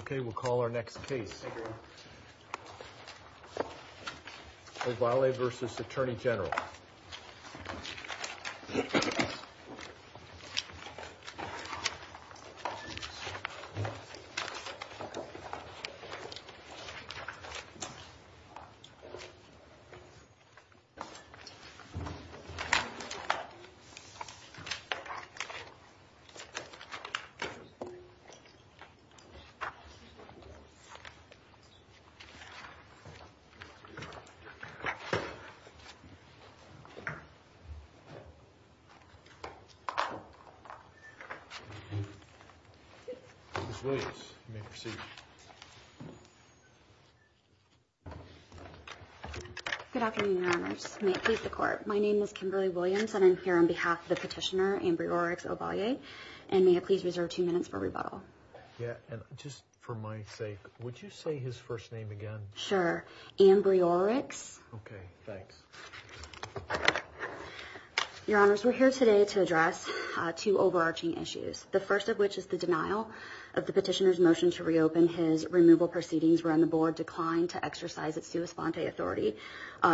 Okay, we'll call our next case. Ovalle v. Attorney General Ms. Williams, you may proceed. Good afternoon, Your Honors. May it please the Court. My name is Kimberly Williams, and I'm here on behalf of the petitioner, Ovalle, and may I please reserve two minutes for rebuttal? Yeah, and just for my sake, would you say his first name again? Sure, Ambriorix. Okay, thanks. Your Honors, we're here today to address two overarching issues. The first of which is the denial of the petitioner's motion to reopen. His removal proceedings were on the board declined to exercise its sua sponte authority,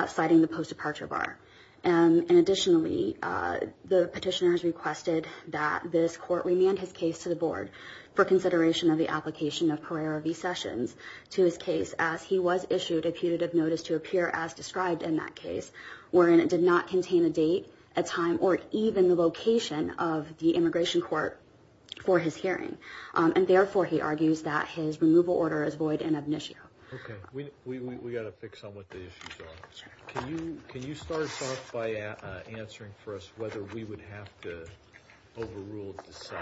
citing the post-departure bar. And additionally, the petitioner has requested that this Court remand his case to the Board for consideration of the application of Pereira v. Sessions to his case, as he was issued a putative notice to appear as described in that case, wherein it did not contain a date, a time, or even the location of the immigration court for his hearing. And therefore, he argues that his removal order is void and ab initio. Okay, we've got to fix on what the issues are. Can you start us off by answering for us whether we would have to overrule the side?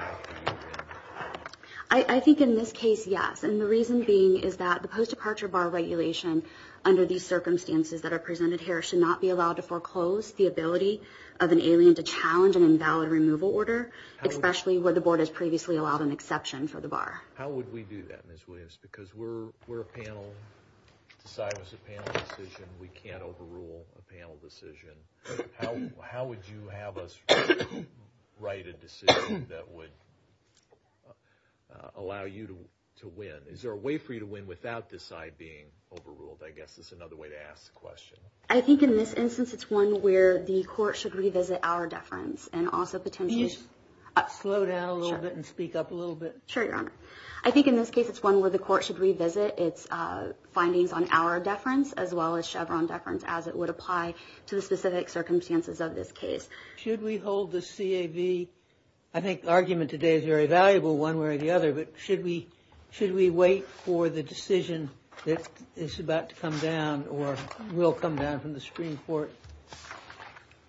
I think in this case, yes. And the reason being is that the post-departure bar regulation, under these circumstances that are presented here, should not be allowed to foreclose the ability of an alien to challenge an invalid removal order, especially where the Board has previously allowed an exception for the bar. How would we do that, Ms. Williams? Because we're a panel. The side was a panel decision. We can't overrule a panel decision. How would you have us write a decision that would allow you to win? Is there a way for you to win without this side being overruled? I guess that's another way to ask the question. I think in this instance, it's one where the Court should revisit our deference and also potentially… Can you slow down a little bit and speak up a little bit? Sure, Your Honor. I think in this case, it's one where the Court should revisit its findings on our deference as well as Chevron deference as it would apply to the specific circumstances of this case. Should we hold the CAV? I think the argument today is very valuable one way or the other, but should we wait for the decision that is about to come down or will come down from the Supreme Court?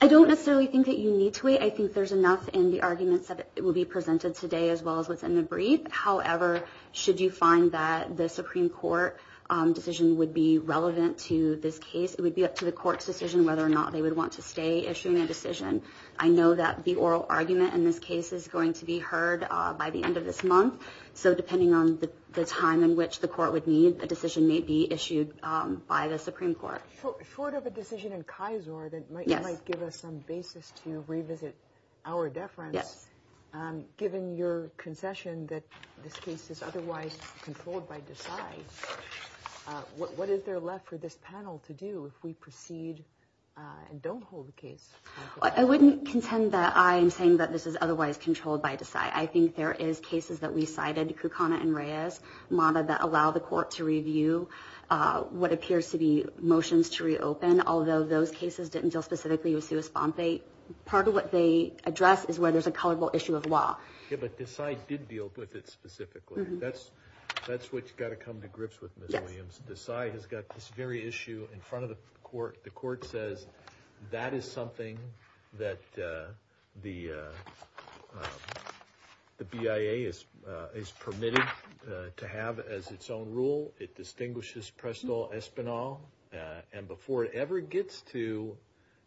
I don't necessarily think that you need to wait. I think there's enough in the arguments that will be presented today as well as what's in the brief. However, should you find that the Supreme Court decision would be relevant to this case, it would be up to the Court's decision whether or not they would want to stay issuing a decision. I know that the oral argument in this case is going to be heard by the end of this month, so depending on the time in which the Court would need, a decision may be issued by the Supreme Court. Short of a decision in Kisor that might give us some basis to revisit our deference, given your concession that this case is otherwise controlled by DECI, what is there left for this panel to do if we proceed and don't hold the case? I wouldn't contend that I am saying that this is otherwise controlled by DECI. I think there is cases that we cited, Kukana and Reyes, that allow the Court to review what appears to be motions to reopen, although those cases didn't deal specifically with Sue Espont. Part of what they address is where there's a culpable issue of law. But DECI did deal with it specifically. That's what you've got to come to grips with, Ms. Williams. DECI has got this very issue in front of the Court. The Court says that is something that the BIA is permitted to have as its own rule. It distinguishes Presto Espinal, and before it ever gets to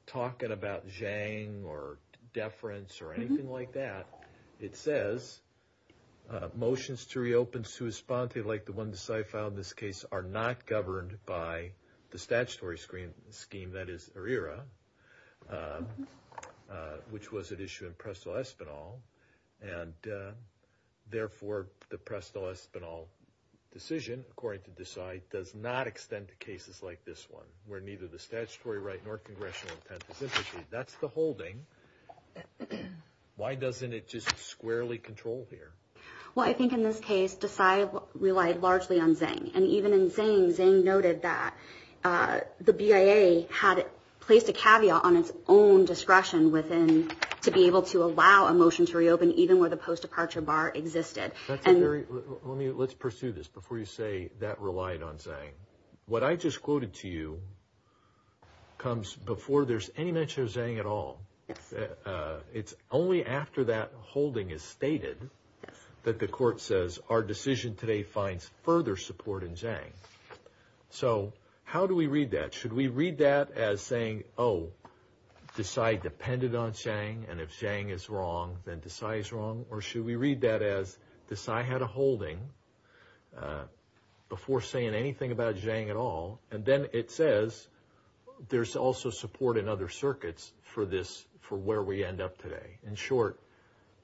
talking about Zhang or deference or anything like that, it says motions to reopen Sue Espont, like the one DECI filed in this case, are not governed by the statutory scheme that is ERIRA, which was at issue in Presto Espinal. Therefore, the Presto Espinal decision, according to DECI, does not extend to cases like this one, where neither the statutory right nor congressional intent is in the case. That's the holding. Why doesn't it just squarely control here? Well, I think in this case DECI relied largely on Zhang, and even in Zhang, Zhang noted that the BIA had placed a caveat on its own discretion to be able to allow a motion to reopen, even where the post-departure bar existed. Let's pursue this before you say that relied on Zhang. What I just quoted to you comes before there's any mention of Zhang at all. It's only after that holding is stated that the court says our decision today finds further support in Zhang. So how do we read that? Should we read that as saying, oh, DECI depended on Zhang, and if Zhang is wrong, then DECI is wrong, or should we read that as DECI had a holding before saying anything about Zhang at all, and then it says there's also support in other circuits for where we end up today. In short,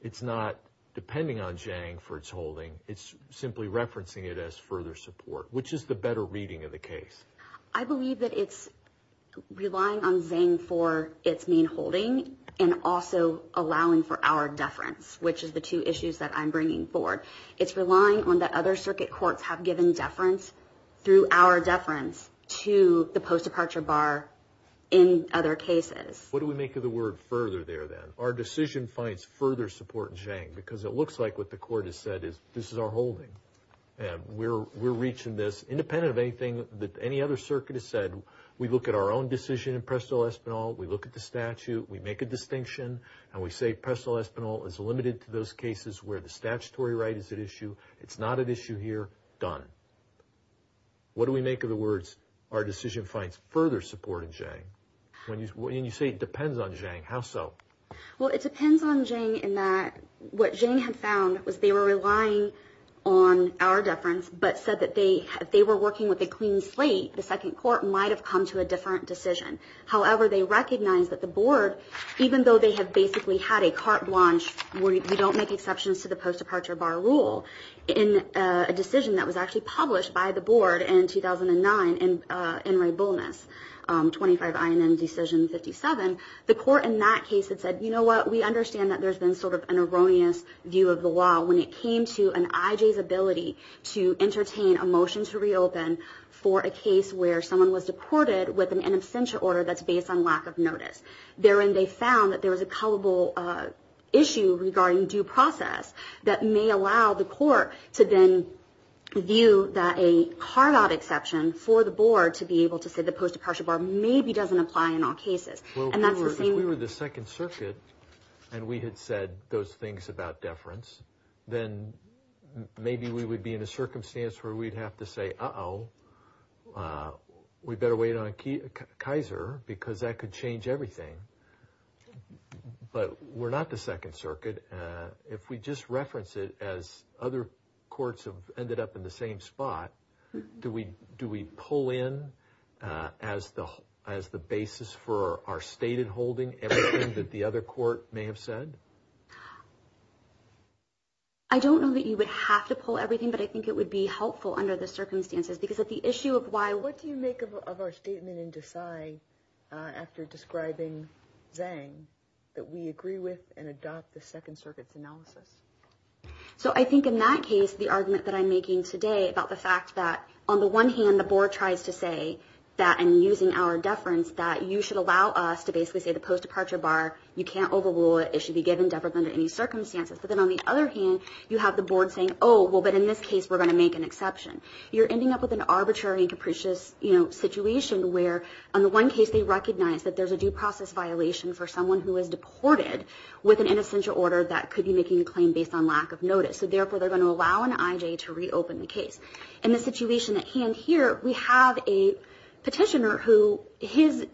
it's not depending on Zhang for its holding. It's simply referencing it as further support, which is the better reading of the case. I believe that it's relying on Zhang for its main holding and also allowing for our deference, which is the two issues that I'm bringing forward. It's relying on the other circuit courts have given deference through our deference to the post-departure bar in other cases. What do we make of the word further there, then? Our decision finds further support in Zhang because it looks like what the court has said is this is our holding. We're reaching this independent of anything that any other circuit has said. We look at our own decision in presto espanol. We look at the statute. We make a distinction, and we say presto espanol is limited to those cases where the statutory right is at issue. It's not at issue here. Done. What do we make of the words our decision finds further support in Zhang? And you say it depends on Zhang. How so? Well, it depends on Zhang in that what Zhang had found was they were relying on our deference but said that if they were working with a clean slate, the second court might have come to a different decision. However, they recognized that the board, even though they have basically had a carte blanche where you don't make exceptions to the post-departure bar rule, in a decision that was actually published by the board in 2009, in Ray Bullness, 25 INM Decision 57, the court in that case had said, you know what, we understand that there's been sort of an erroneous view of the law when it came to an IJ's ability to entertain a motion to reopen for a case where someone was deported with an absentia order that's based on lack of notice. Therein they found that there was a culpable issue regarding due process that may allow the court to then view that a carve-out exception for the board to be able to say the post-departure bar maybe doesn't apply in all cases. If we were the Second Circuit and we had said those things about deference, then maybe we would be in a circumstance where we'd have to say, uh-oh, we better wait on Kaiser because that could change everything. But we're not the Second Circuit. If we just reference it as other courts have ended up in the same spot, do we pull in as the basis for our stated holding everything that the other court may have said? I don't know that you would have to pull everything, but I think it would be helpful under the circumstances. What do you make of our statement in Desai after describing Zhang that we agree with and adopt the Second Circuit's analysis? I think in that case the argument that I'm making today about the fact that, on the one hand, the board tries to say that in using our deference that you should allow us to basically say the post-departure bar, you can't overrule it, it should be given deferred under any circumstances. But then on the other hand you have the board saying, oh, but in this case we're going to make an exception. You're ending up with an arbitrary and capricious situation where, on the one case they recognize that there's a due process violation for someone who is deported with an innocential order that could be making a claim based on lack of notice. So therefore they're going to allow an IJ to reopen the case. In the situation at hand here we have a petitioner who his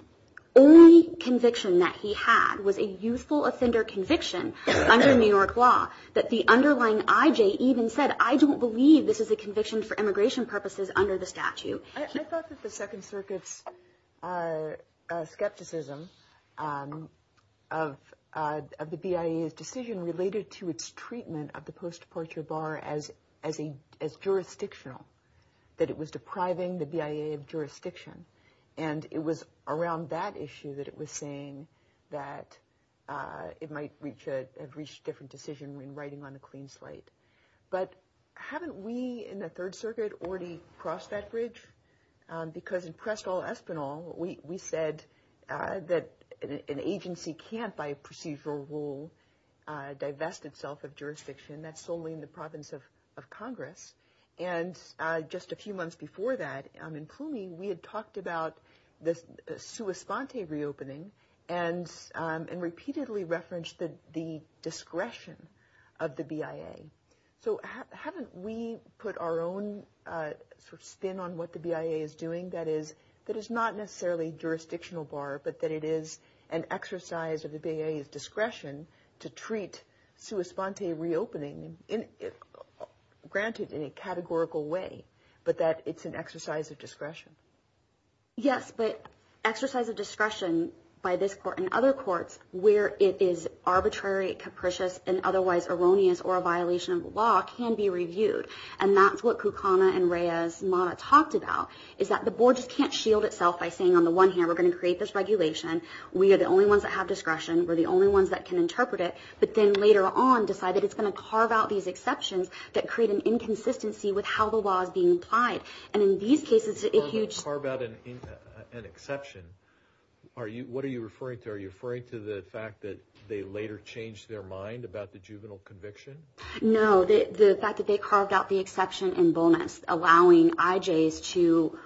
only conviction that he had was a youthful offender conviction under New York law that the underlying IJ even said, I don't believe this is a conviction for immigration purposes under the statute. I thought that the Second Circuit's skepticism of the BIA's decision related to its treatment of the post-departure bar as jurisdictional, that it was depriving the BIA of jurisdiction. And it was around that issue that it was saying that it might have reached a different decision when writing on a clean slate. But haven't we in the Third Circuit already crossed that bridge? Because in Prestall-Espinal we said that an agency can't, by procedural rule, divest itself of jurisdiction. That's solely in the province of Congress. And just a few months before that in Plume we had talked about the sua sponte reopening and repeatedly referenced the discretion of the BIA. So haven't we put our own spin on what the BIA is doing that is not necessarily jurisdictional bar but that it is an exercise of the BIA's discretion to treat sua sponte reopening, granted in a categorical way, but that it's an exercise of discretion? Yes, but exercise of discretion by this court and other courts where it is arbitrary, capricious, and otherwise erroneous or a violation of the law can be reviewed. And that's what Kukana and Reyes-Mata talked about, is that the board just can't shield itself by saying on the one hand we're going to create this regulation, we are the only ones that have discretion, we're the only ones that can interpret it, but then later on decide that it's going to carve out these exceptions that create an inconsistency with how the law is being applied. And in these cases, if you... Carve out an exception, what are you referring to? Are you referring to the fact that they later changed their mind about the juvenile conviction? No, the fact that they carved out the exception in bonus, allowing IJs to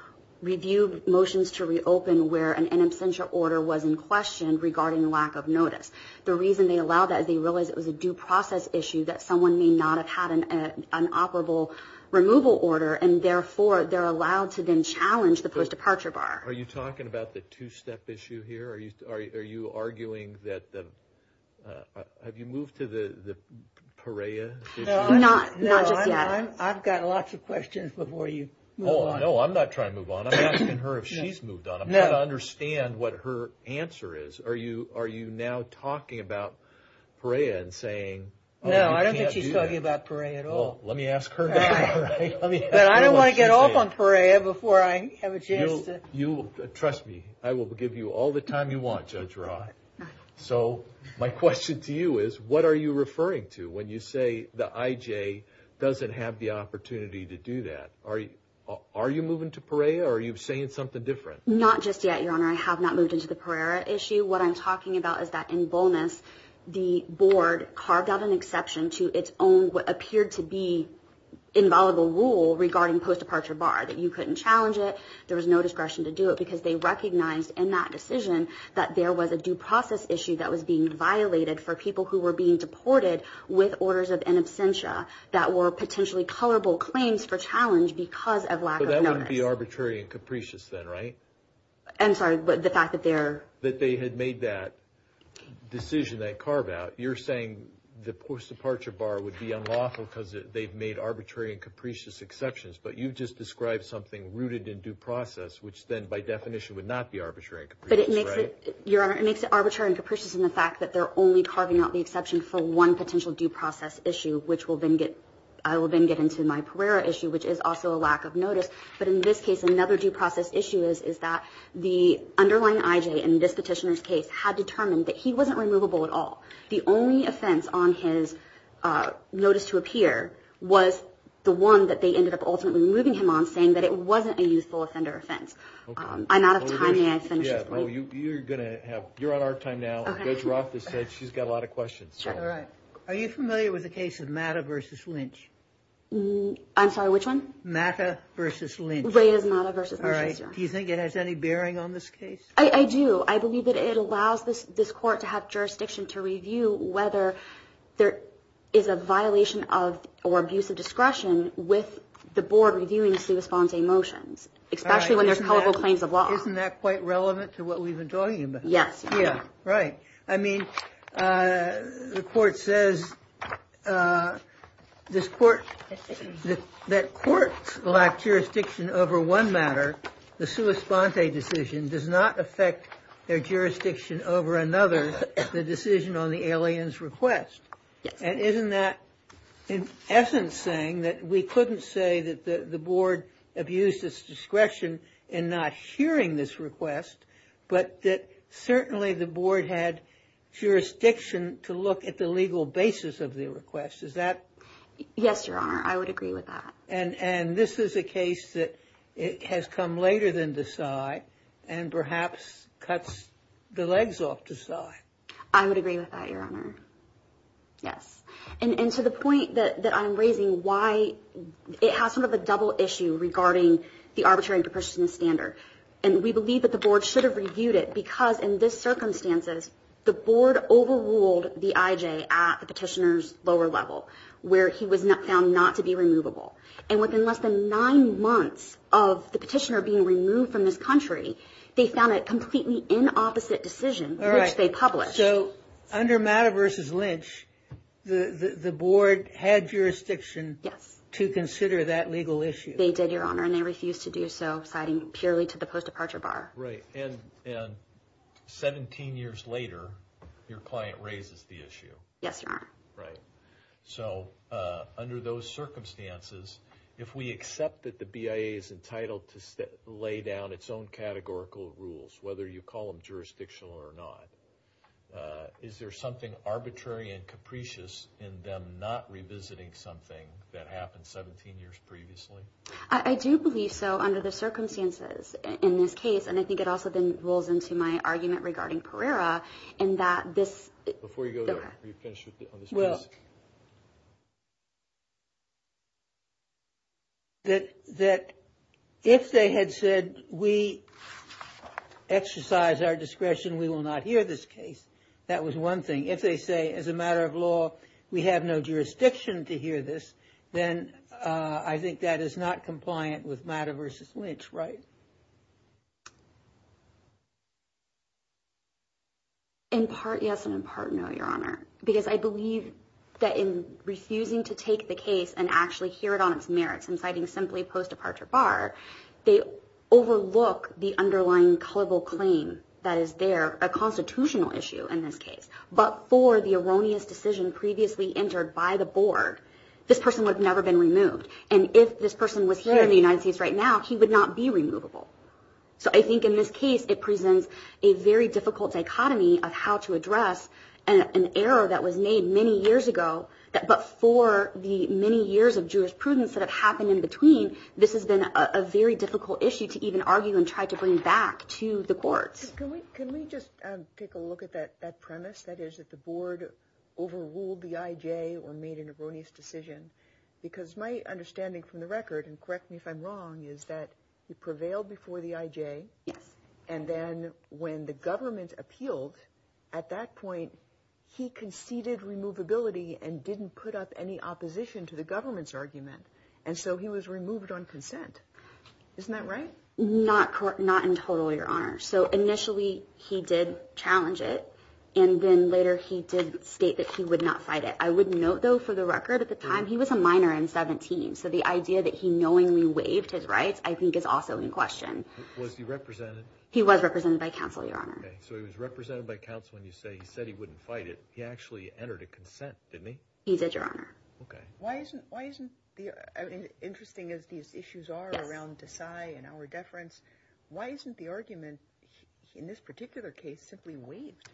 review motions to reopen where an in absentia order was in question regarding lack of notice. The reason they allowed that is they realized it was a due process issue that someone may not have had an operable removal order and therefore they're allowed to then challenge the post-departure bar. Are you talking about the two-step issue here? Are you arguing that... Have you moved to the Perea issue? Not just yet. I've got lots of questions before you move on. No, I'm not trying to move on. I'm asking her if she's moved on. I'm trying to understand what her answer is. Are you now talking about Perea and saying... No, I don't think she's talking about Perea at all. Let me ask her. But I don't want to get off on Perea before I have a chance to... Trust me, I will give you all the time you want, Judge Rah. So my question to you is what are you referring to when you say the IJ doesn't have the opportunity to do that? Are you moving to Perea or are you saying something different? Not just yet, Your Honor. I have not moved into the Perea issue. What I'm talking about is that in bonus, the board carved out an exception to its own, what appeared to be inviolable rule regarding post-departure bar, that you couldn't challenge it, there was no discretion to do it because they recognized in that decision that there was a due process issue that was being violated for people who were being deported with orders of in absentia that were potentially colorable claims for challenge because of lack of notice. But that wouldn't be arbitrary and capricious then, right? I'm sorry, but the fact that they're... In that decision they carve out, you're saying the post-departure bar would be unlawful because they've made arbitrary and capricious exceptions, but you've just described something rooted in due process, which then by definition would not be arbitrary and capricious, right? Your Honor, it makes it arbitrary and capricious in the fact that they're only carving out the exception for one potential due process issue, which I will then get into my Perea issue, which is also a lack of notice. But in this case, another due process issue is that the underlying IJ, in this petitioner's case, had determined that he wasn't removable at all. The only offense on his notice to appear was the one that they ended up ultimately removing him on, saying that it wasn't a youthful offender offense. I'm out of time. May I finish? You're on our time now. Judge Roth has said she's got a lot of questions. Are you familiar with the case of Mata v. Lynch? I'm sorry, which one? Mata v. Lynch. Ray is Mata v. Lynch. Do you think it has any bearing on this case? I do. I believe that it allows this court to have jurisdiction to review whether there is a violation of or abuse of discretion with the board reviewing the sua sponte motions, especially when there's culpable claims of law. Isn't that quite relevant to what we've been talking about? Yes. Yeah, right. I mean, the court says that courts lack jurisdiction over one matter. The sua sponte decision does not affect their jurisdiction over another, the decision on the alien's request. Yes. And isn't that, in essence, saying that we couldn't say that the board abused its discretion in not hearing this request, but that certainly the board had jurisdiction to look at the legal basis of the request. Is that... Yes, Your Honor. I would agree with that. And this is a case that has come later than the PSY and perhaps cuts the legs off the PSY. I would agree with that, Your Honor. Yes. And to the point that I'm raising, why it has sort of a double issue regarding the arbitration standard. And we believe that the board should have reviewed it because, in this circumstances, the board overruled the IJ at the petitioner's lower level, where he was found not to be removable. And within less than nine months of the petitioner being removed from this country, they found a completely inopposite decision, which they published. All right. So, under Matter v. Lynch, the board had jurisdiction... Yes. ...to consider that legal issue. They did, Your Honor, and they refused to do so, citing purely to the post-departure bar. Right. And 17 years later, your client raises the issue. Yes, Your Honor. Right. So, under those circumstances, if we accept that the BIA is entitled to lay down its own categorical rules, whether you call them jurisdictional or not, is there something arbitrary and capricious in them not revisiting something that happened 17 years previously? I do believe so under the circumstances in this case. And I think it also then rolls into my argument regarding Pereira in that this... Before you go there, before you finish on this case. Well, that if they had said, we exercise our discretion, we will not hear this case, that was one thing. If they say, as a matter of law, we have no jurisdiction to hear this, then I think that is not compliant with Matter v. Lynch, right? In part, yes, and in part, no, Your Honor, because I believe that in refusing to take the case and actually hear it on its merits and citing simply post-departure bar, they overlook the underlying culpable claim that is there, a constitutional issue in this case. But for the erroneous decision previously entered by the board, this person would have never been removed. And if this person was here in the United States right now, he would not be removable. So I think in this case, it presents a very difficult dichotomy of how to address an error that was made many years ago, but for the many years of jurisprudence that have happened in between, this has been a very difficult issue to even argue and try to bring back to the courts. Can we just take a look at that premise, that is, that the board overruled the IJ or made an erroneous decision? Because my understanding from the record, and correct me if I'm wrong, is that he prevailed before the IJ. Yes. And then when the government appealed at that point, he conceded removability and didn't put up any opposition to the government's argument, and so he was removed on consent. Isn't that right? Not in total, Your Honor. So initially, he did challenge it, and then later he did state that he would not fight it. I would note, though, for the record, at the time, he was a minor in 17, so the idea that he knowingly waived his rights, I think, is also in question. Was he represented? He was represented by counsel, Your Honor. Okay, so he was represented by counsel, and you say he said he wouldn't fight it. He actually entered a consent, didn't he? He did, Your Honor. Okay. Why isn't, interesting as these issues are around Desai and our deference, why isn't the argument in this particular case simply waived,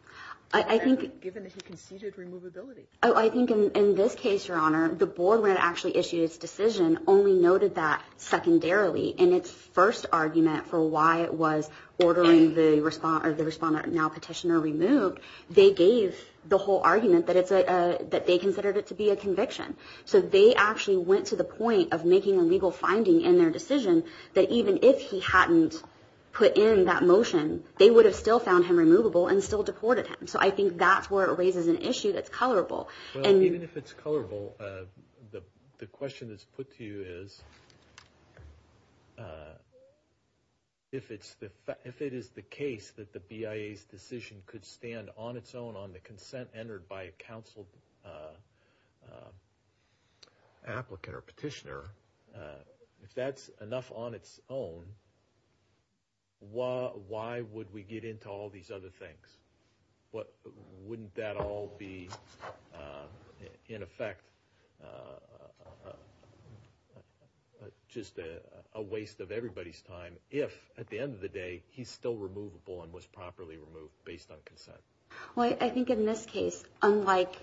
given that he conceded removability? I think in this case, Your Honor, the board, when it actually issued its decision, only noted that secondarily in its first argument for why it was ordering the respondent now petitioner removed, they gave the whole argument that they considered it to be a conviction. So they actually went to the point of making a legal finding in their decision that even if he hadn't put in that motion, they would have still found him removable and still deported him. So I think that's where it raises an issue that's colorable. Well, even if it's colorable, the question that's put to you is, if it is the case that the BIA's decision could stand on its own on the consent entered by a counsel applicant or petitioner, if that's enough on its own, why would we get into all these other things? Wouldn't that all be, in effect, just a waste of everybody's time if, at the end of the day, he's still removable and was properly removed based on consent? Well, I think in this case, unlike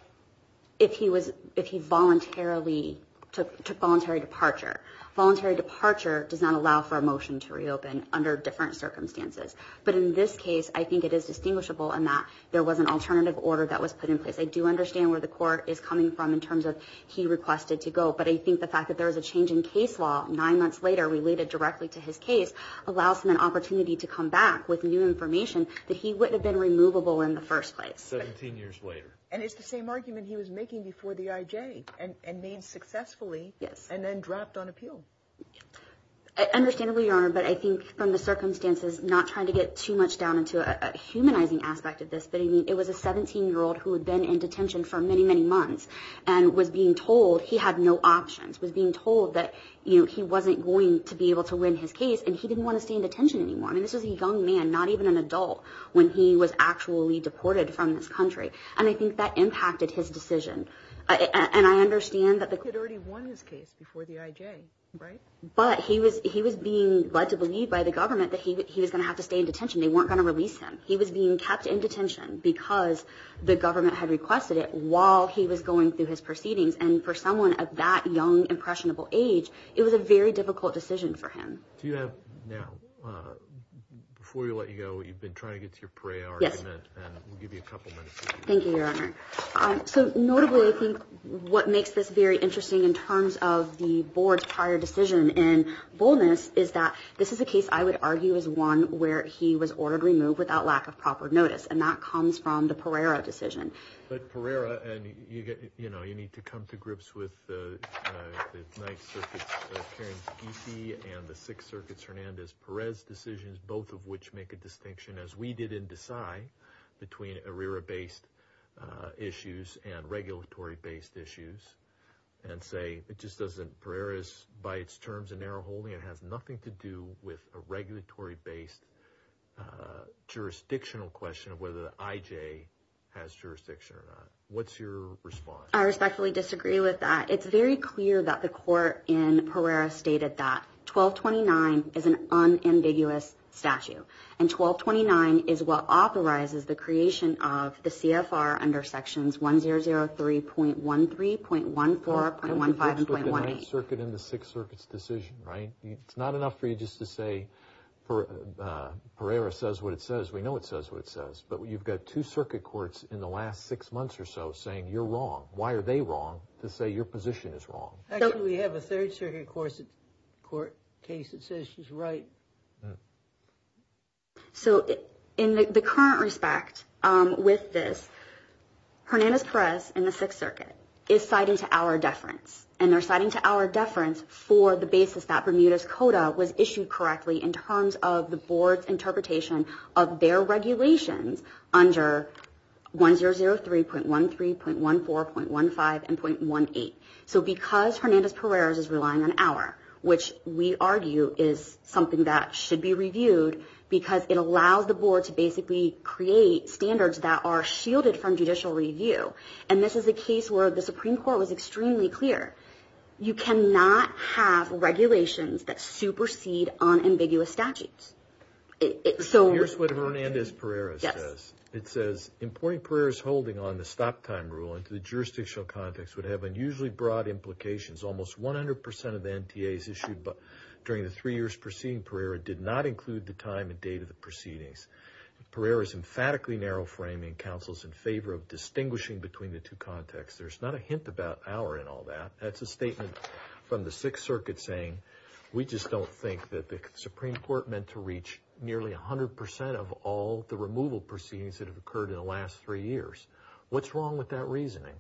if he voluntarily took voluntary departure, voluntary departure does not allow for a motion to reopen under different circumstances. But in this case, I think it is distinguishable in that there was an alternative order that was put in place. I do understand where the court is coming from in terms of he requested to go, but I think the fact that there was a change in case law nine months later related directly to his case allows him an opportunity to come back with new information that he wouldn't have been removable in the first place. Seventeen years later. And it's the same argument he was making before the IJ and made successfully and then dropped on appeal. Understandably, Your Honor, but I think from the circumstances, not trying to get too much down into a humanizing aspect of this, but it was a 17-year-old who had been in detention for many, many months and was being told he had no options, was being told that he wasn't going to be able to win his case and he didn't want to stay in detention anymore. I mean, this was a young man, not even an adult, when he was actually deported from this country. And I think that impacted his decision. And I understand that the court. He had already won his case before the IJ, right? But he was being led to believe by the government that he was going to have to stay in detention. They weren't going to release him. He was being kept in detention because the government had requested it while he was going through his proceedings. And for someone of that young, impressionable age, it was a very difficult decision for him. Now, before we let you go, you've been trying to get to your Pereira argument. And we'll give you a couple minutes. Thank you, Your Honor. So notably, I think what makes this very interesting in terms of the board's prior decision in Bolness is that this is a case, I would argue, is one where he was ordered removed without lack of proper notice. And that comes from the Pereira decision. But Pereira, and, you know, you need to come to grips with the Ninth Circuit's Karens-Giese and the Sixth Circuit's Hernandez-Perez decisions, both of which make a distinction, as we did in Desai, between ARERA-based issues and regulatory-based issues, and say it just doesn't. Pereira is, by its terms, a narrow holding. It has nothing to do with a regulatory-based jurisdictional question of whether the IJ has jurisdiction or not. What's your response? I respectfully disagree with that. It's very clear that the court in Pereira stated that 1229 is an unambiguous statute, and 1229 is what authorizes the creation of the CFR under Sections 1003.13, .14, .15, and .18. It's the Third Circuit and the Sixth Circuit's decision, right? It's not enough for you just to say Pereira says what it says. We know it says what it says. But you've got two circuit courts in the last six months or so saying you're wrong. Why are they wrong to say your position is wrong? Actually, we have a Third Circuit court case that says she's right. So in the current respect with this, Hernandez-Perez and the Sixth Circuit is citing to our deference, and they're citing to our deference for the basis that Bermuda's Coda was issued correctly in terms of the board's interpretation of their regulations under 1003.13, .14, .15, and .18. So because Hernandez-Perez is relying on our, which we argue is something that should be reviewed, because it allows the board to basically create standards that are shielded from judicial review, and this is a case where the Supreme Court was extremely clear. You cannot have regulations that supersede unambiguous statutes. So here's what Hernandez-Perez says. It says, Importing Pereira's holding on the stop time rule into the jurisdictional context would have unusually broad implications. Almost 100% of the NTAs issued during the three years preceding Pereira did not include the time and date of the proceedings. Pereira is emphatically narrow-framing counsels in favor of distinguishing between the two contexts. There's not a hint about our in all that. That's a statement from the Sixth Circuit saying, We just don't think that the Supreme Court meant to reach nearly 100% of all the removal proceedings that have occurred in the last three years. What's wrong with that reasoning?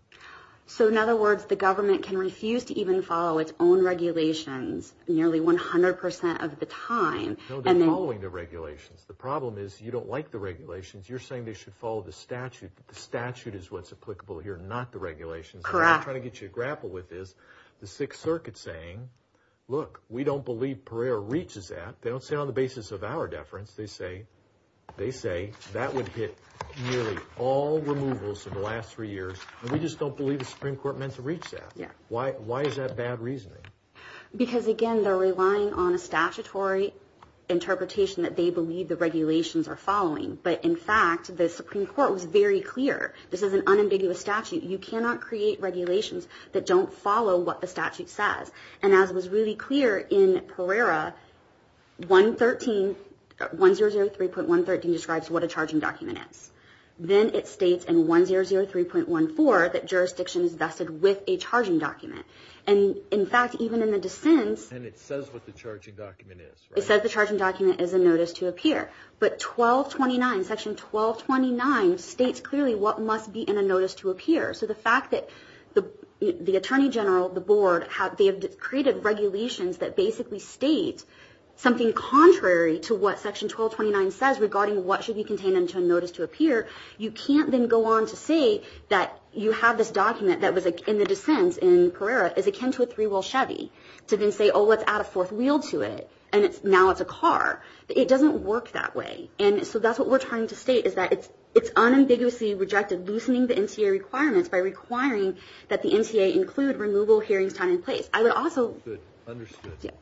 So in other words, the government can refuse to even follow its own regulations nearly 100% of the time. No, they're following the regulations. The problem is you don't like the regulations. You're saying they should follow the statute. The statute is what's applicable here, not the regulations. Correct. What I'm trying to get you to grapple with is the Sixth Circuit saying, Look, we don't believe Pereira reaches that. They don't say it on the basis of our deference. They say that would hit nearly all removals in the last three years. We just don't believe the Supreme Court meant to reach that. Why is that bad reasoning? Because, again, they're relying on a statutory interpretation that they believe the regulations are following. But, in fact, the Supreme Court was very clear. This is an unambiguous statute. You cannot create regulations that don't follow what the statute says. And as was really clear in Pereira, 1003.113 describes what a charging document is. Then it states in 1003.14 that jurisdiction is vested with a charging document. And, in fact, even in the dissents. And it says what the charging document is, right? It says the charging document is a notice to appear. But 1229, Section 1229, states clearly what must be in a notice to appear. So the fact that the attorney general, the board, they have created regulations that basically state something contrary to what Section 1229 says regarding what should be contained in a notice to appear. You can't then go on to say that you have this document that was in the dissents in Pereira is akin to a three-wheel Chevy. To then say, oh, let's add a fourth wheel to it, and now it's a car. It doesn't work that way. And so that's what we're trying to state is that it's unambiguously rejected loosening the NCA requirements by requiring that the NCA include removal hearings time and place. I would also – Understood.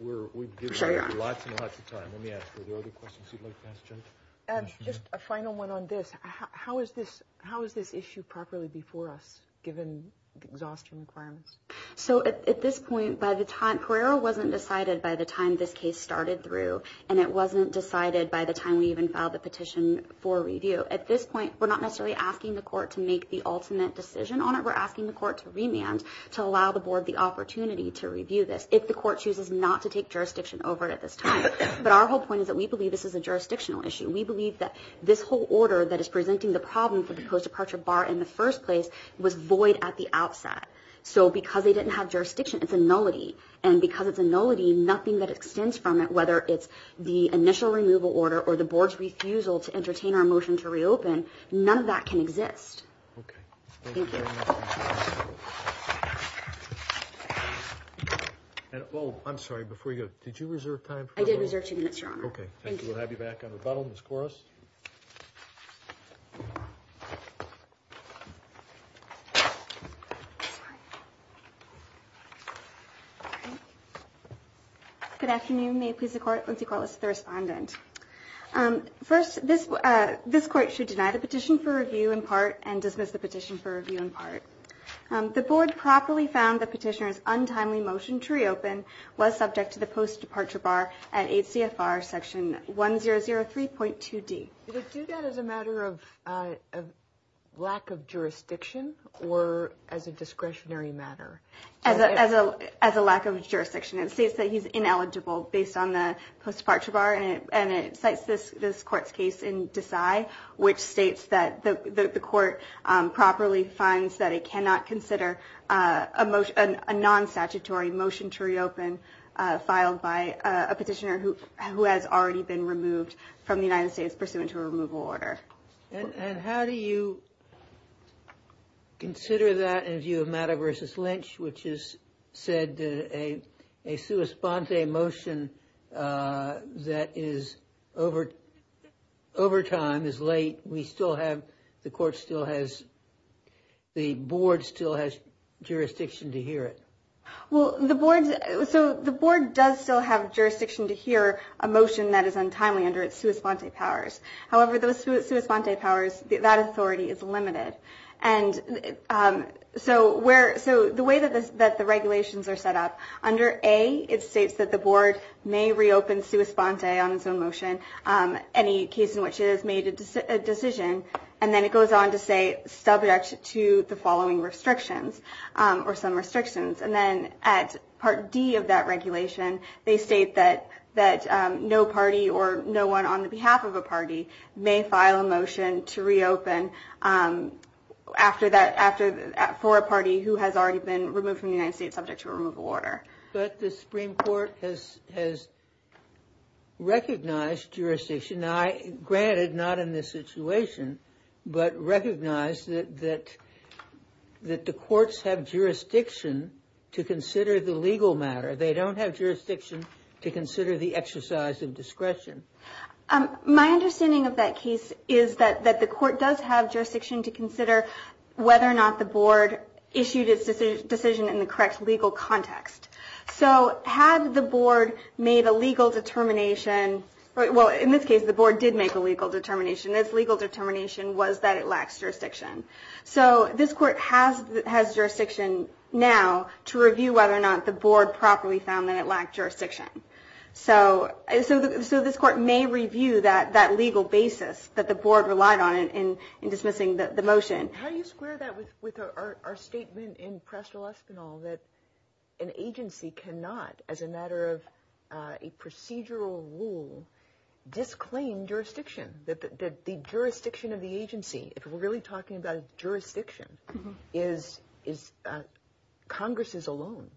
We're giving you lots and lots of time. Let me ask, are there other questions you'd like to ask, Jennifer? Just a final one on this. How is this issue properly before us, given the exhaustion requirements? So at this point, Pereira wasn't decided by the time this case started through, and it wasn't decided by the time we even filed the petition for review. At this point, we're not necessarily asking the court to make the ultimate decision on it. We're asking the court to remand to allow the board the opportunity to review this if the court chooses not to take jurisdiction over it at this time. But our whole point is that we believe this is a jurisdictional issue. We believe that this whole order that is presenting the problem for the post-departure bar in the first place was void at the outset. So because they didn't have jurisdiction, it's a nullity. And because it's a nullity, nothing that extends from it, whether it's the initial removal order or the board's refusal to entertain our motion to reopen, none of that can exist. Okay. Thank you. Thank you very much. Oh, I'm sorry. Before you go, did you reserve time? I did reserve two minutes, Your Honor. Okay. Thank you. We'll have you back on rebuttal, Ms. Koros. Good afternoon. May it please the Court, Lindsay Kualos, the respondent. First, this Court should deny the petition for review in part and dismiss the petition for review in part. The board properly found the petitioner's untimely motion to reopen was subject to the post-departure bar at HCFR Section 1003.2d. Did it do that as a matter of lack of jurisdiction or as a discretionary matter? As a lack of jurisdiction. It states that he's ineligible based on the post-departure bar, and it cites this Court's case in Desai, which states that the Court properly finds that it cannot consider a non-statutory motion to reopen filed by a petitioner who has already been removed from the United States pursuant to a removal order. And how do you consider that in view of Matter v. Lynch, which has said a sua sponte motion that is over time, is late, we still have, the Court still has, the board still has jurisdiction to hear it? Well, the board does still have jurisdiction to hear a motion that is untimely under its sua sponte powers. However, those sua sponte powers, that authority is limited. And so the way that the regulations are set up, under A, it states that the board may reopen sua sponte on its own motion, any case in which it has made a decision, and then it goes on to say subject to the following restrictions, or some restrictions. And then at Part D of that regulation, they state that no party or no one on the behalf of a party may file a motion to reopen for a party who has already been removed from the United States subject to a removal order. But the Supreme Court has recognized jurisdiction, granted not in this situation, but recognized that the courts have jurisdiction to consider the legal matter. They don't have jurisdiction to consider the exercise of discretion. My understanding of that case is that the court does have jurisdiction to consider whether or not the board issued its decision in the correct legal context. So had the board made a legal determination, well in this case the board did make a legal determination, its legal determination was that it lacks jurisdiction. So this court has jurisdiction now to review whether or not the board properly found that it lacked jurisdiction. So this court may review that legal basis that the board relied on in dismissing the motion. How do you square that with our statement in Presto Espinal that an agency cannot, as a matter of a procedural rule, disclaim jurisdiction, that the jurisdiction of the agency, if we're really talking about jurisdiction, is Congress's alone?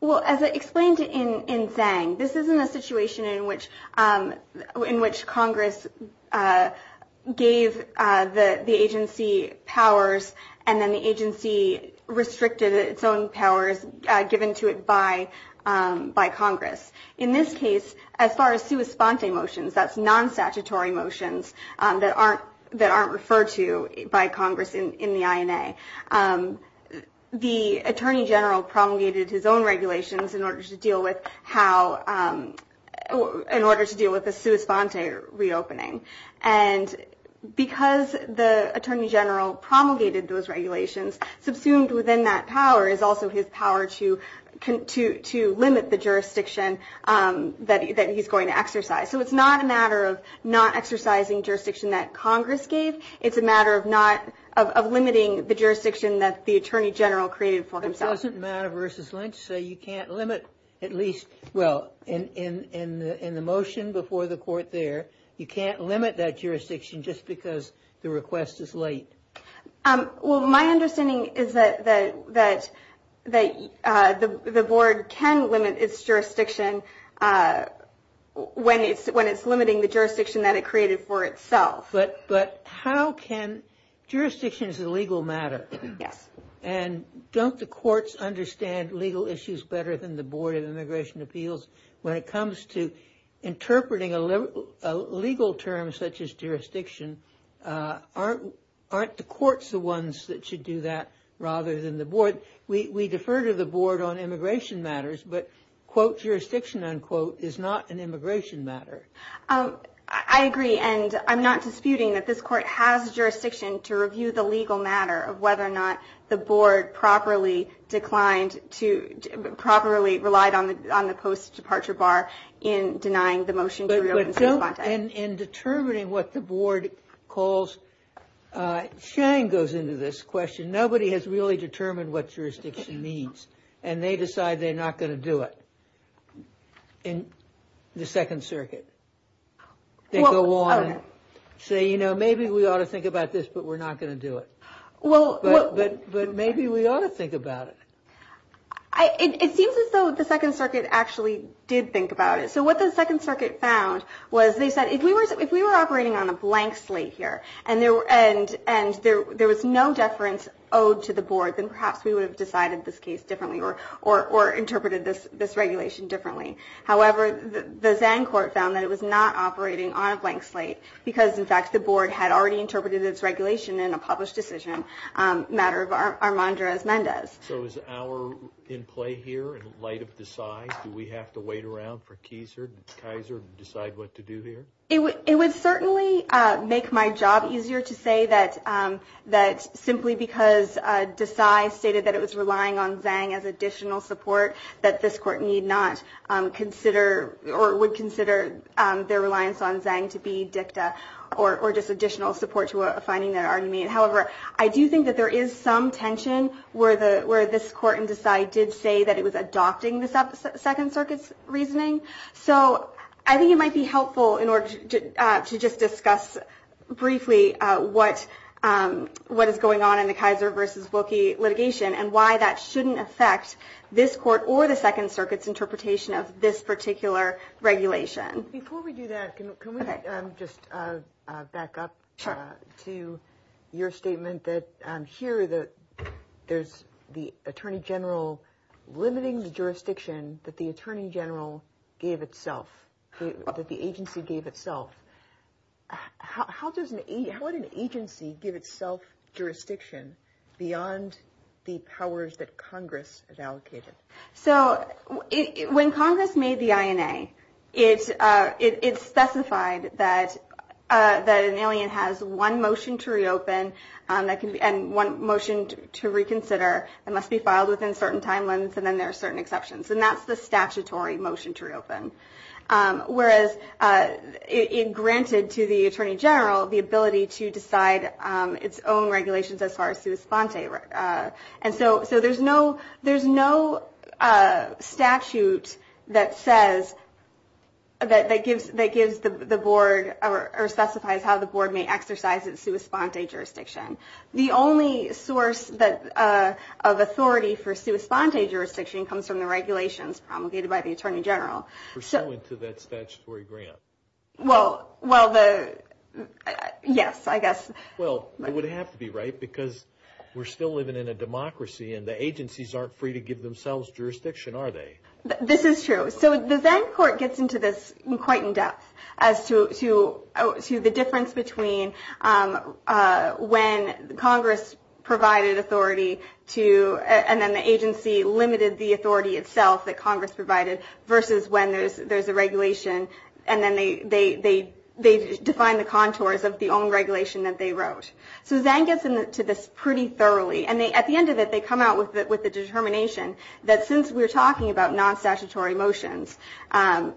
Well, as I explained in Zhang, this isn't a situation in which Congress gave the agency powers and then the agency restricted its own powers given to it by Congress. In this case, as far as sua sponte motions, that's non-statutory motions, that aren't referred to by Congress in the INA, the Attorney General promulgated his own regulations in order to deal with how, in order to deal with the sua sponte reopening. And because the Attorney General promulgated those regulations, subsumed within that power is also his power to limit the jurisdiction that he's going to exercise. So it's not a matter of not exercising jurisdiction that Congress gave, it's a matter of limiting the jurisdiction that the Attorney General created for himself. It doesn't matter versus Lynch, so you can't limit at least, well, in the motion before the court there, you can't limit that jurisdiction just because the request is late. Well, my understanding is that the board can limit its jurisdiction when it's limiting the jurisdiction that it created for itself. But how can, jurisdiction is a legal matter. Yes. And don't the courts understand legal issues better than the Board of Immigration Appeals when it comes to interpreting a legal term such as jurisdiction? Aren't the courts the ones that should do that rather than the board? We defer to the board on immigration matters, but, quote, jurisdiction, unquote, is not an immigration matter. I agree, and I'm not disputing that this court has jurisdiction to review the legal matter of whether or not the board properly declined to, properly relied on the post-departure bar in denying the motion to reopen. But don't, in determining what the board calls, Shane goes into this question, nobody has really determined what jurisdiction means, and they decide they're not going to do it in the Second Circuit. They go on and say, you know, maybe we ought to think about this, but we're not going to do it. But maybe we ought to think about it. It seems as though the Second Circuit actually did think about it. So what the Second Circuit found was they said if we were operating on a blank slate here and there was no deference owed to the board, then perhaps we would have decided this case differently or interpreted this regulation differently. However, the Zang court found that it was not operating on a blank slate because, in fact, the board had already interpreted its regulation in a published decision, a matter of Armandrez-Mendez. So is our in play here in light of the size? Do we have to wait around for Keiser to decide what to do here? It would certainly make my job easier to say that simply because Desai stated that it was relying on Zang as additional support that this court need not consider or would consider their reliance on Zang to be dicta or just additional support to a finding that already made. However, I do think that there is some tension where this court and Desai did say that it was adopting the Second Circuit's reasoning. So I think it might be helpful in order to just discuss briefly what is going on in the Keiser versus Wilkie litigation and why that shouldn't affect this court or the Second Circuit's interpretation of this particular regulation. Before we do that, can we just back up to your statement that here there's the attorney general limiting the jurisdiction that the attorney general gave itself, that the agency gave itself. How does an agency give itself jurisdiction beyond the powers that Congress has allocated? So when Congress made the INA, it specified that an alien has one motion to reopen and one motion to reconsider that must be filed within certain timelines and then there are certain exceptions. And that's the statutory motion to reopen. Whereas it granted to the attorney general the ability to decide its own regulations as far as sua sponte. And so there's no statute that says, that gives the board or specifies how the board may exercise its sua sponte jurisdiction. The only source of authority for sua sponte jurisdiction comes from the regulations promulgated by the attorney general. Pursuant to that statutory grant. Well, yes, I guess. Well, it would have to be, right, because we're still living in a democracy and the agencies aren't free to give themselves jurisdiction, are they? This is true. So the Zang court gets into this quite in depth as to the difference between when Congress provided authority to, and then the agency limited the authority itself that Congress provided versus when there's a regulation and then they define the contours of the own regulation that they wrote. So Zang gets into this pretty thoroughly and at the end of it they come out with the determination that since we're talking about non-statutory motions, that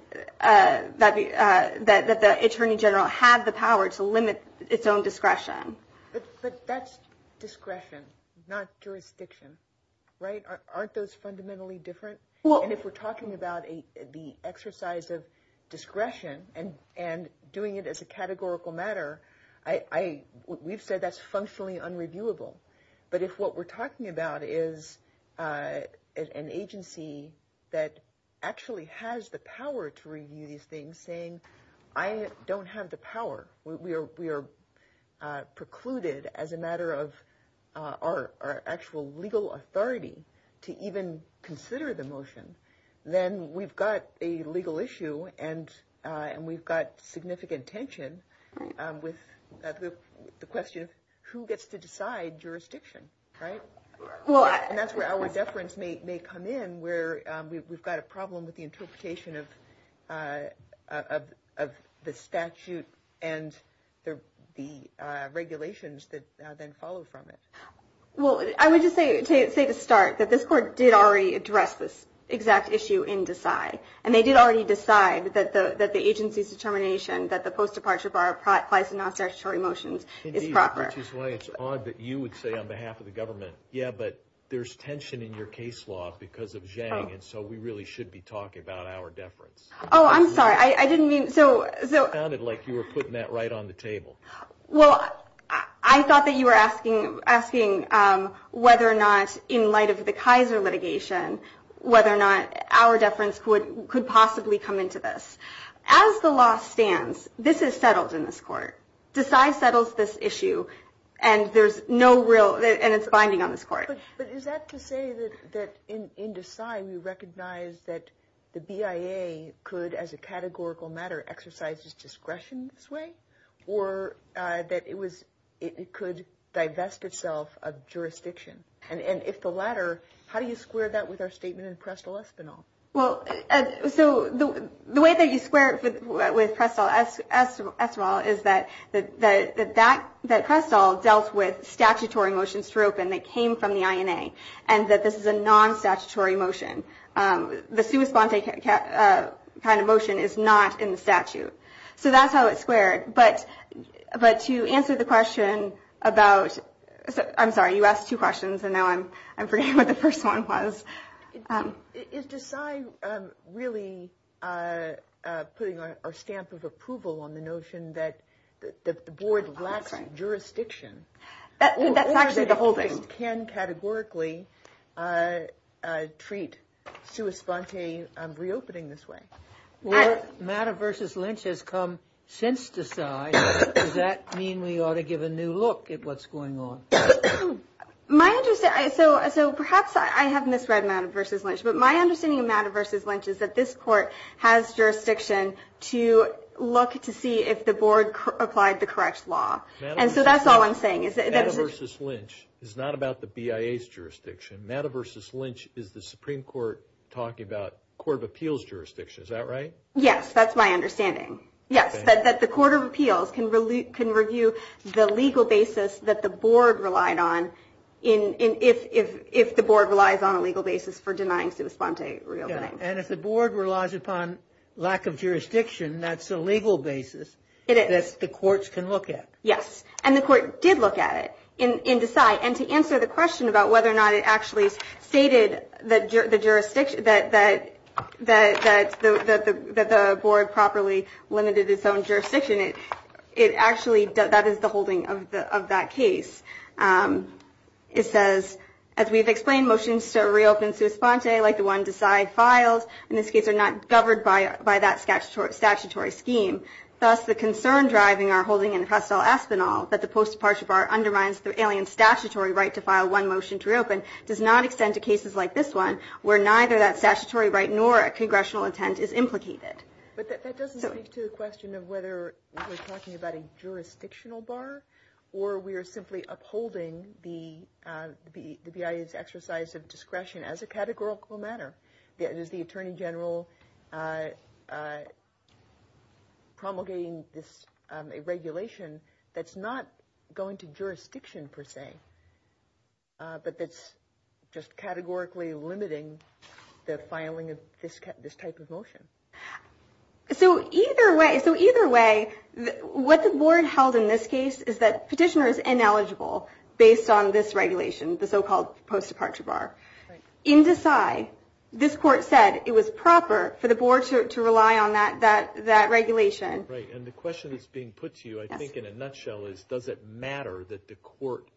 the attorney general had the power to limit its own discretion. But that's discretion, not jurisdiction, right? Aren't those fundamentally different? And if we're talking about the exercise of discretion and doing it as a categorical matter, we've said that's functionally unreviewable. But if what we're talking about is an agency that actually has the power to review these things, saying, I don't have the power, we are precluded as a matter of our actual legal authority to even consider the motion, then we've got a legal issue and we've got significant tension with the question of who gets to decide jurisdiction, right? And that's where our deference may come in, where we've got a problem with the interpretation of the statute and the regulations that then follow from it. Well, I would just say to start that this court did already address this exact issue in Decide. And they did already decide that the agency's determination that the post-departure bar applies to non-statutory motions is proper. Indeed, which is why it's odd that you would say on behalf of the government, yeah, but there's tension in your case law because of Zang and so we really should be talking about our deference. Oh, I'm sorry. I didn't mean to. It sounded like you were putting that right on the table. Well, I thought that you were asking whether or not in light of the Kaiser litigation, whether or not our deference could possibly come into this. As the law stands, this is settled in this court. Decide settles this issue and there's no real, and it's binding on this court. But is that to say that in Decide we recognize that the BIA could, as a categorical matter, exercise its discretion this way or that it could divest itself of jurisdiction? And if the latter, how do you square that with our statement in Prestle-Espinal? Well, so the way that you square it with Prestle-Espinal is that Prestle dealt with statutory motions to reopen that came from the INA and that this is a non-statutory motion. The sua sponte kind of motion is not in the statute. So that's how it's squared. But to answer the question about, I'm sorry, you asked two questions and now I'm forgetting what the first one was. Is Decide really putting our stamp of approval on the notion that the board lacks jurisdiction? That's actually the whole thing. The board can categorically treat sua sponte reopening this way. Well, matter versus Lynch has come since Decide. Does that mean we ought to give a new look at what's going on? My understanding, so perhaps I have misread matter versus Lynch, but my understanding of matter versus Lynch is that this court has jurisdiction to look to see if the board applied the correct law. And so that's all I'm saying. Matter versus Lynch is not about the BIA's jurisdiction. Matter versus Lynch is the Supreme Court talking about court of appeals jurisdiction. Is that right? Yes, that's my understanding. Yes, that the court of appeals can review the legal basis that the board relied on if the board relies on a legal basis for denying sua sponte reopening. And if the board relies upon lack of jurisdiction, that's a legal basis that the courts can look at. Yes. And the court did look at it in Decide. And to answer the question about whether or not it actually stated that the board properly limited its own jurisdiction, it actually that is the holding of that case. It says, as we've explained, motions to reopen sua sponte like the one Decide files in this case are not governed by that statutory scheme. Thus, the concern driving our holding in presto espanol that the post-departure bar undermines the alien statutory right to file one motion to reopen does not extend to cases like this one where neither that statutory right nor a congressional intent is implicated. But that doesn't speak to the question of whether we're talking about a jurisdictional bar or we are simply upholding the BIA's exercise of discretion as a categorical matter. Is the attorney general promulgating this regulation that's not going to jurisdiction per se, but that's just categorically limiting the filing of this type of motion? So either way, so either way, what the board held in this case is that petitioner is ineligible based on this regulation, the so-called post-departure bar. In Decide, this court said it was proper for the board to rely on that regulation. Right, and the question that's being put to you, I think in a nutshell, is does it matter that the court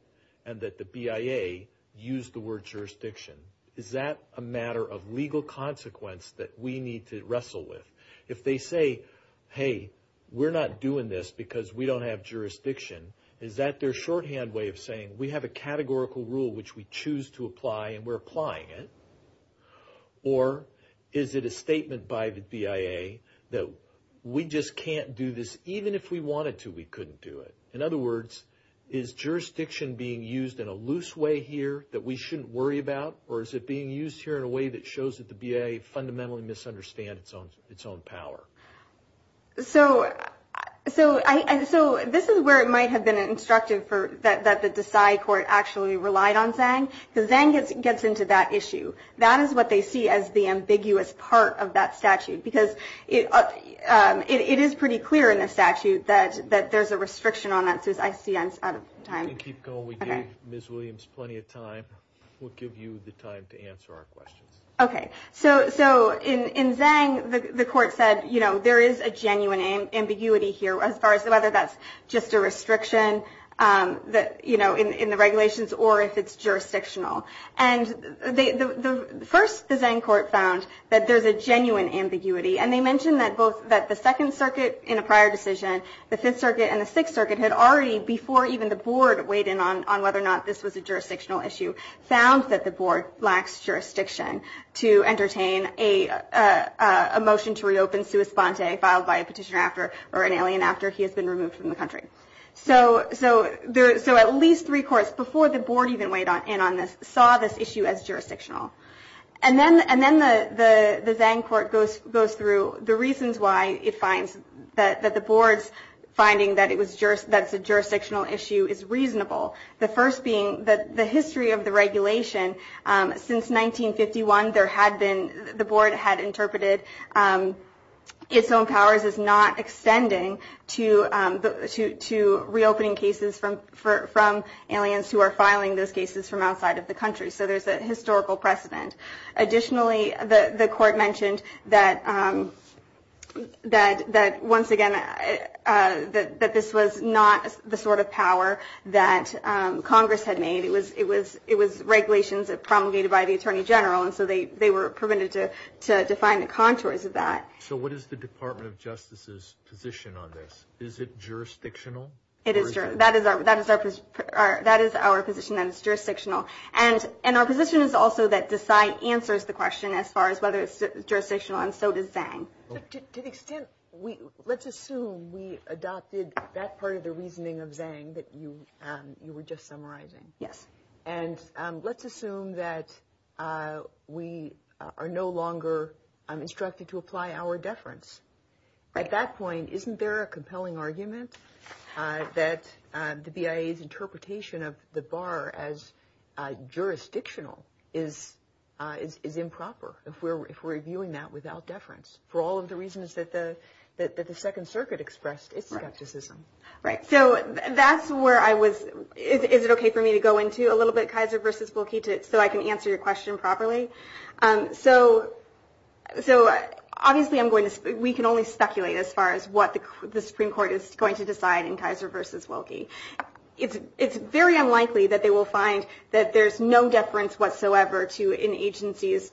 and that the BIA use the word jurisdiction? Is that a matter of legal consequence that we need to wrestle with? If they say, hey, we're not doing this because we don't have jurisdiction, is that their shorthand way of saying we have a categorical rule which we choose to apply and we're applying it? Or is it a statement by the BIA that we just can't do this even if we wanted to, we couldn't do it? In other words, is jurisdiction being used in a loose way here that we shouldn't worry about? Or is it being used here in a way that shows that the BIA fundamentally misunderstands its own power? So this is where it might have been instructive that the Decide court actually relied on Zang, because Zang gets into that issue. That is what they see as the ambiguous part of that statute, because it is pretty clear in the statute that there's a restriction on that, as I see out of time. Keep going. We gave Ms. Williams plenty of time. We'll give you the time to answer our questions. Okay. So in Zang, the court said there is a genuine ambiguity here, as far as whether that's just a restriction in the regulations or if it's jurisdictional. And first, the Zang court found that there's a genuine ambiguity, and they mentioned that both the Second Circuit in a prior decision, the Fifth Circuit and the Sixth Circuit, had already, before even the board weighed in on whether or not this was a jurisdictional issue, found that the board lacks jurisdiction to entertain a motion to reopen Suus Pante, filed by a petitioner after, or an alien after, he has been removed from the country. So at least three courts, before the board even weighed in on this, saw this issue as jurisdictional. And then the Zang court goes through the reasons why it finds that the board's finding that it's a jurisdictional issue is reasonable. The first being that the history of the regulation, since 1951, the board had interpreted its own powers as not extending to reopening cases from aliens who are filing those cases from outside of the country. So there's a historical precedent. Additionally, the court mentioned that, once again, that this was not the sort of power that Congress had made. It was regulations promulgated by the Attorney General, and so they were prevented to define the contours of that. So what is the Department of Justice's position on this? Is it jurisdictional? It is jurisdictional. That is our position, that it's jurisdictional. And our position is also that Desai answers the question as far as whether it's jurisdictional, and so does Zang. To the extent, let's assume we adopted that part of the reasoning of Zang that you were just summarizing. Yes. And let's assume that we are no longer instructed to apply our deference. At that point, isn't there a compelling argument that the BIA's interpretation of the bar as jurisdictional is improper, if we're reviewing that without deference, for all of the reasons that the Second Circuit expressed its skepticism? Right. So that's where I was – is it okay for me to go into a little bit, Kaiser versus Volke, so I can answer your question properly? So obviously I'm going to – we can only speculate as far as what the Supreme Court is going to decide in Kaiser versus Volke. It's very unlikely that they will find that there's no deference whatsoever to an agency's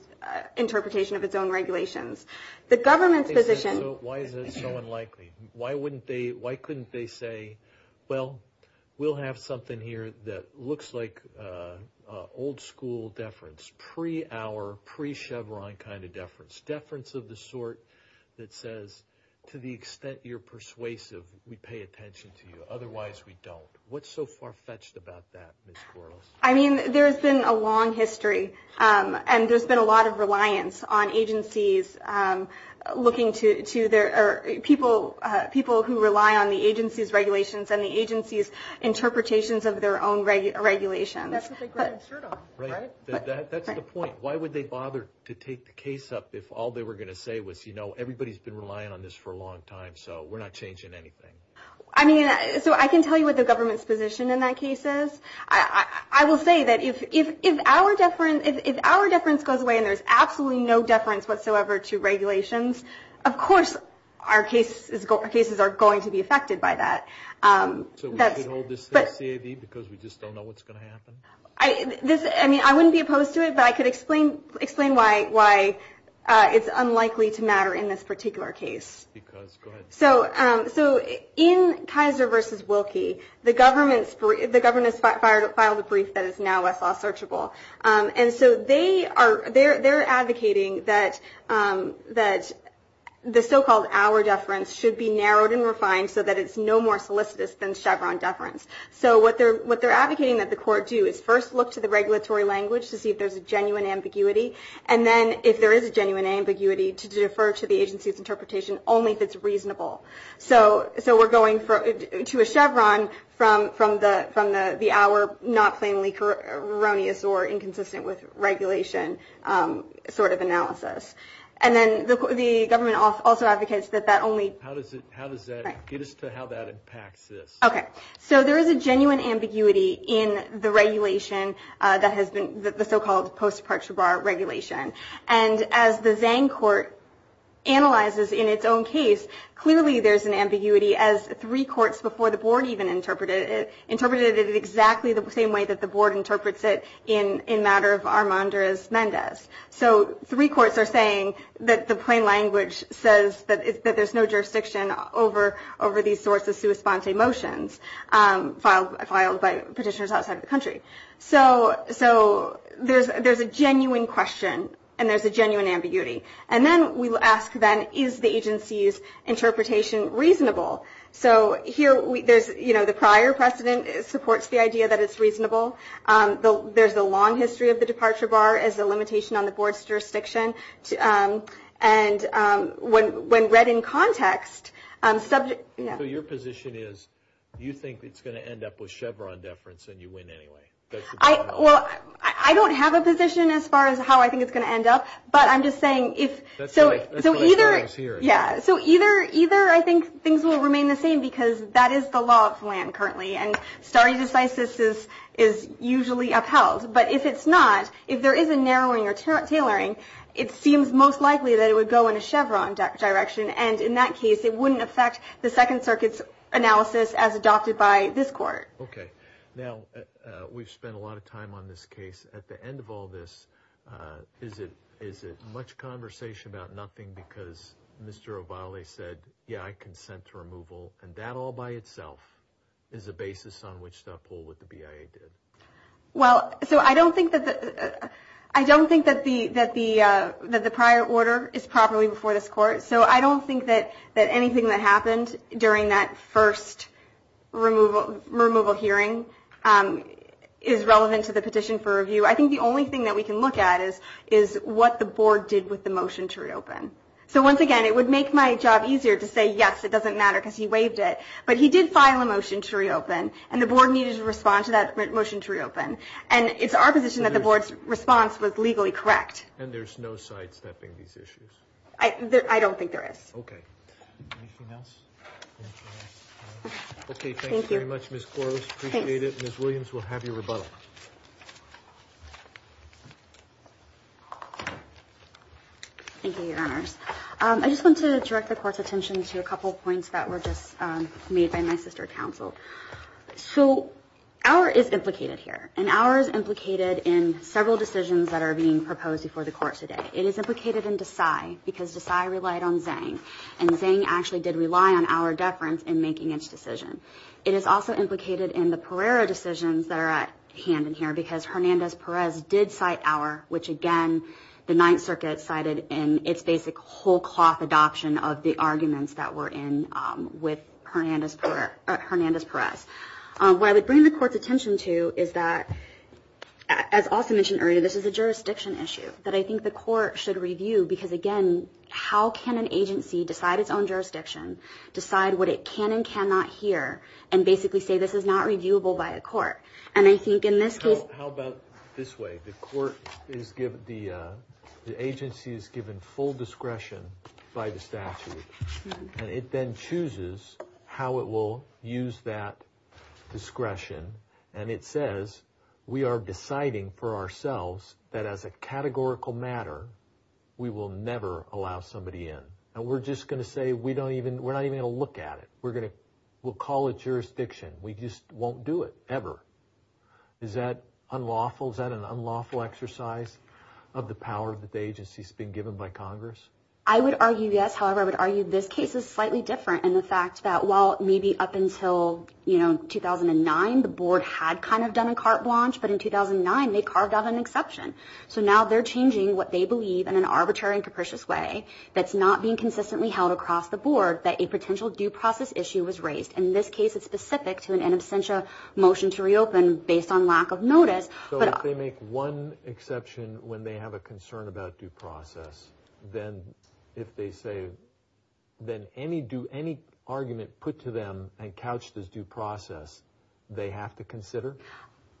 interpretation of its own regulations. The government's position – So why is it so unlikely? Why wouldn't they – why couldn't they say, well, we'll have something here that looks like old-school deference, pre-hour, pre-Chevron kind of deference, deference of the sort that says, to the extent you're persuasive, we pay attention to you. Otherwise, we don't. What's so far-fetched about that, Ms. Quartles? I mean, there's been a long history, and there's been a lot of reliance on agencies looking to their – people who rely on the agency's regulations and the agency's interpretations of their own regulations. That's what they grab their shirt off, right? That's the point. Why would they bother to take the case up if all they were going to say was, you know, everybody's been relying on this for a long time, so we're not changing anything? I mean, so I can tell you what the government's position in that case is. I will say that if our deference goes away and there's absolutely no deference whatsoever to regulations, of course our cases are going to be affected by that. So we should hold this CID because we just don't know what's going to happen? I mean, I wouldn't be opposed to it, but I could explain why it's unlikely to matter in this particular case. Because, go ahead. So in Kaiser v. Wilkie, the government has filed a brief that is now Westlaw searchable. And so they are advocating that the so-called our deference should be narrowed and refined so that it's no more solicitous than Chevron deference. So what they're advocating that the court do is first look to the regulatory language to see if there's a genuine ambiguity, and then if there is a genuine ambiguity, to defer to the agency's interpretation only if it's reasonable. So we're going to a Chevron from the our not plainly erroneous or inconsistent with regulation sort of analysis. And then the government also advocates that that only... How does that get us to how that impacts this? Okay. So there is a genuine ambiguity in the regulation that has been the so-called post-parture bar regulation. And as the Zang court analyzes in its own case, clearly there's an ambiguity as three courts before the board even interpreted it exactly the same way that the board interprets it in matter of Armanduras-Mendez. So three courts are saying that the plain language says that there's no jurisdiction over these sorts of sui sponte motions filed by petitioners outside of the country. So there's a genuine question and there's a genuine ambiguity. And then we will ask then is the agency's interpretation reasonable? So here there's, you know, the prior precedent supports the idea that it's reasonable. There's a long history of the departure bar as a limitation on the board's jurisdiction. And when read in context... So your position is you think it's going to end up with Chevron deference and you win anyway? Well, I don't have a position as far as how I think it's going to end up. But I'm just saying if... So either I think things will remain the same because that is the law of land currently. And stare decisis is usually upheld. But if it's not, if there is a narrowing or tailoring, it seems most likely that it would go in a Chevron direction. And in that case, it wouldn't affect the Second Circuit's analysis as adopted by this court. Okay. Now, we've spent a lot of time on this case. At the end of all this, is it much conversation about nothing because Mr. O'Reilly said, yeah, I consent to removal. And that all by itself is a basis on which to uphold what the BIA did. Well, so I don't think that the prior order is properly before this court. So I don't think that anything that happened during that first removal hearing is relevant to the petition for review. I think the only thing that we can look at is what the board did with the motion to reopen. So once again, it would make my job easier to say, yes, it doesn't matter because he waived it. But he did file a motion to reopen. And the board needed to respond to that motion to reopen. And it's our position that the board's response was legally correct. And there's no sidestepping these issues? I don't think there is. Okay. Anything else? Okay, thank you very much, Ms. Quarles. Appreciate it. Ms. Williams, we'll have your rebuttal. Thank you, Your Honors. I just want to direct the Court's attention to a couple points that were just made by my sister counsel. So our is implicated here. And our is implicated in several decisions that are being proposed before the Court today. It is implicated in Desai because Desai relied on Zhang. And Zhang actually did rely on our deference in making its decision. It is also implicated in the Pereira decisions that are at hand in here because Hernandez-Perez did cite our, which again the Ninth Circuit cited in its basic whole cloth adoption of the arguments that were in with Hernandez-Perez. What I would bring the Court's attention to is that, as also mentioned earlier, this is a jurisdiction issue. That I think the Court should review because, again, how can an agency decide its own jurisdiction, decide what it can and cannot hear, and basically say this is not reviewable by a court? And I think in this case – How about this way? The agency is given full discretion by the statute. And it then chooses how it will use that discretion. And it says we are deciding for ourselves that as a categorical matter we will never allow somebody in. And we're just going to say we don't even – we're not even going to look at it. We're going to – we'll call it jurisdiction. We just won't do it ever. Is that unlawful? Is that an unlawful exercise of the power that the agency has been given by Congress? I would argue yes. However, I would argue this case is slightly different in the fact that while maybe up until 2009, the Board had kind of done a carte blanche, but in 2009 they carved out an exception. So now they're changing what they believe in an arbitrary and capricious way that's not being consistently held across the Board that a potential due process issue was raised. And in this case, it's specific to an in absentia motion to reopen based on lack of notice. So if they make one exception when they have a concern about due process, then if they say – then any argument put to them and couched as due process, they have to consider?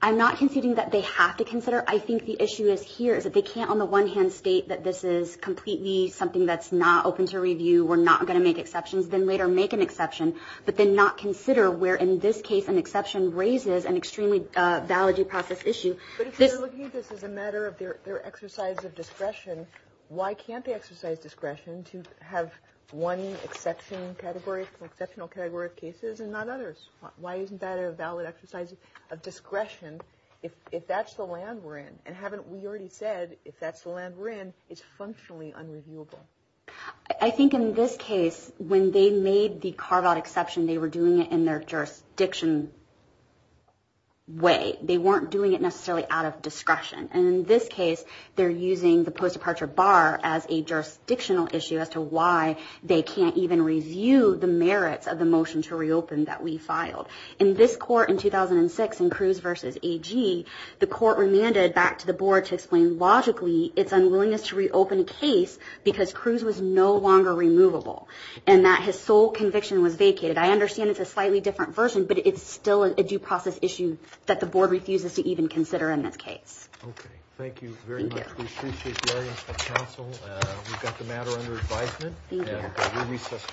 I'm not conceding that they have to consider. I think the issue is here is that they can't on the one hand state that this is completely something that's not open to review, we're not going to make exceptions, then later make an exception, but then not consider where in this case an exception raises an extremely valid due process issue. But if they're looking at this as a matter of their exercise of discretion, why can't they exercise discretion to have one exception category, exceptional category of cases and not others? Why isn't that a valid exercise of discretion if that's the land we're in? And haven't we already said if that's the land we're in, it's functionally unreviewable? I think in this case, when they made the carve-out exception, they were doing it in their jurisdiction way. They weren't doing it necessarily out of discretion. And in this case, they're using the post-departure bar as a jurisdictional issue as to why they can't even review the merits of the motion to reopen that we filed. In this court in 2006, in Cruz v. AG, the court remanded back to the board to explain, logically, its unwillingness to reopen the case because Cruz was no longer removable and that his sole conviction was vacated. I understand it's a slightly different version, but it's still a due process issue that the board refuses to even consider in this case. Okay. Thank you very much. Thank you. We appreciate the audience at the council. We've got the matter under advisement. Thank you. And we recess.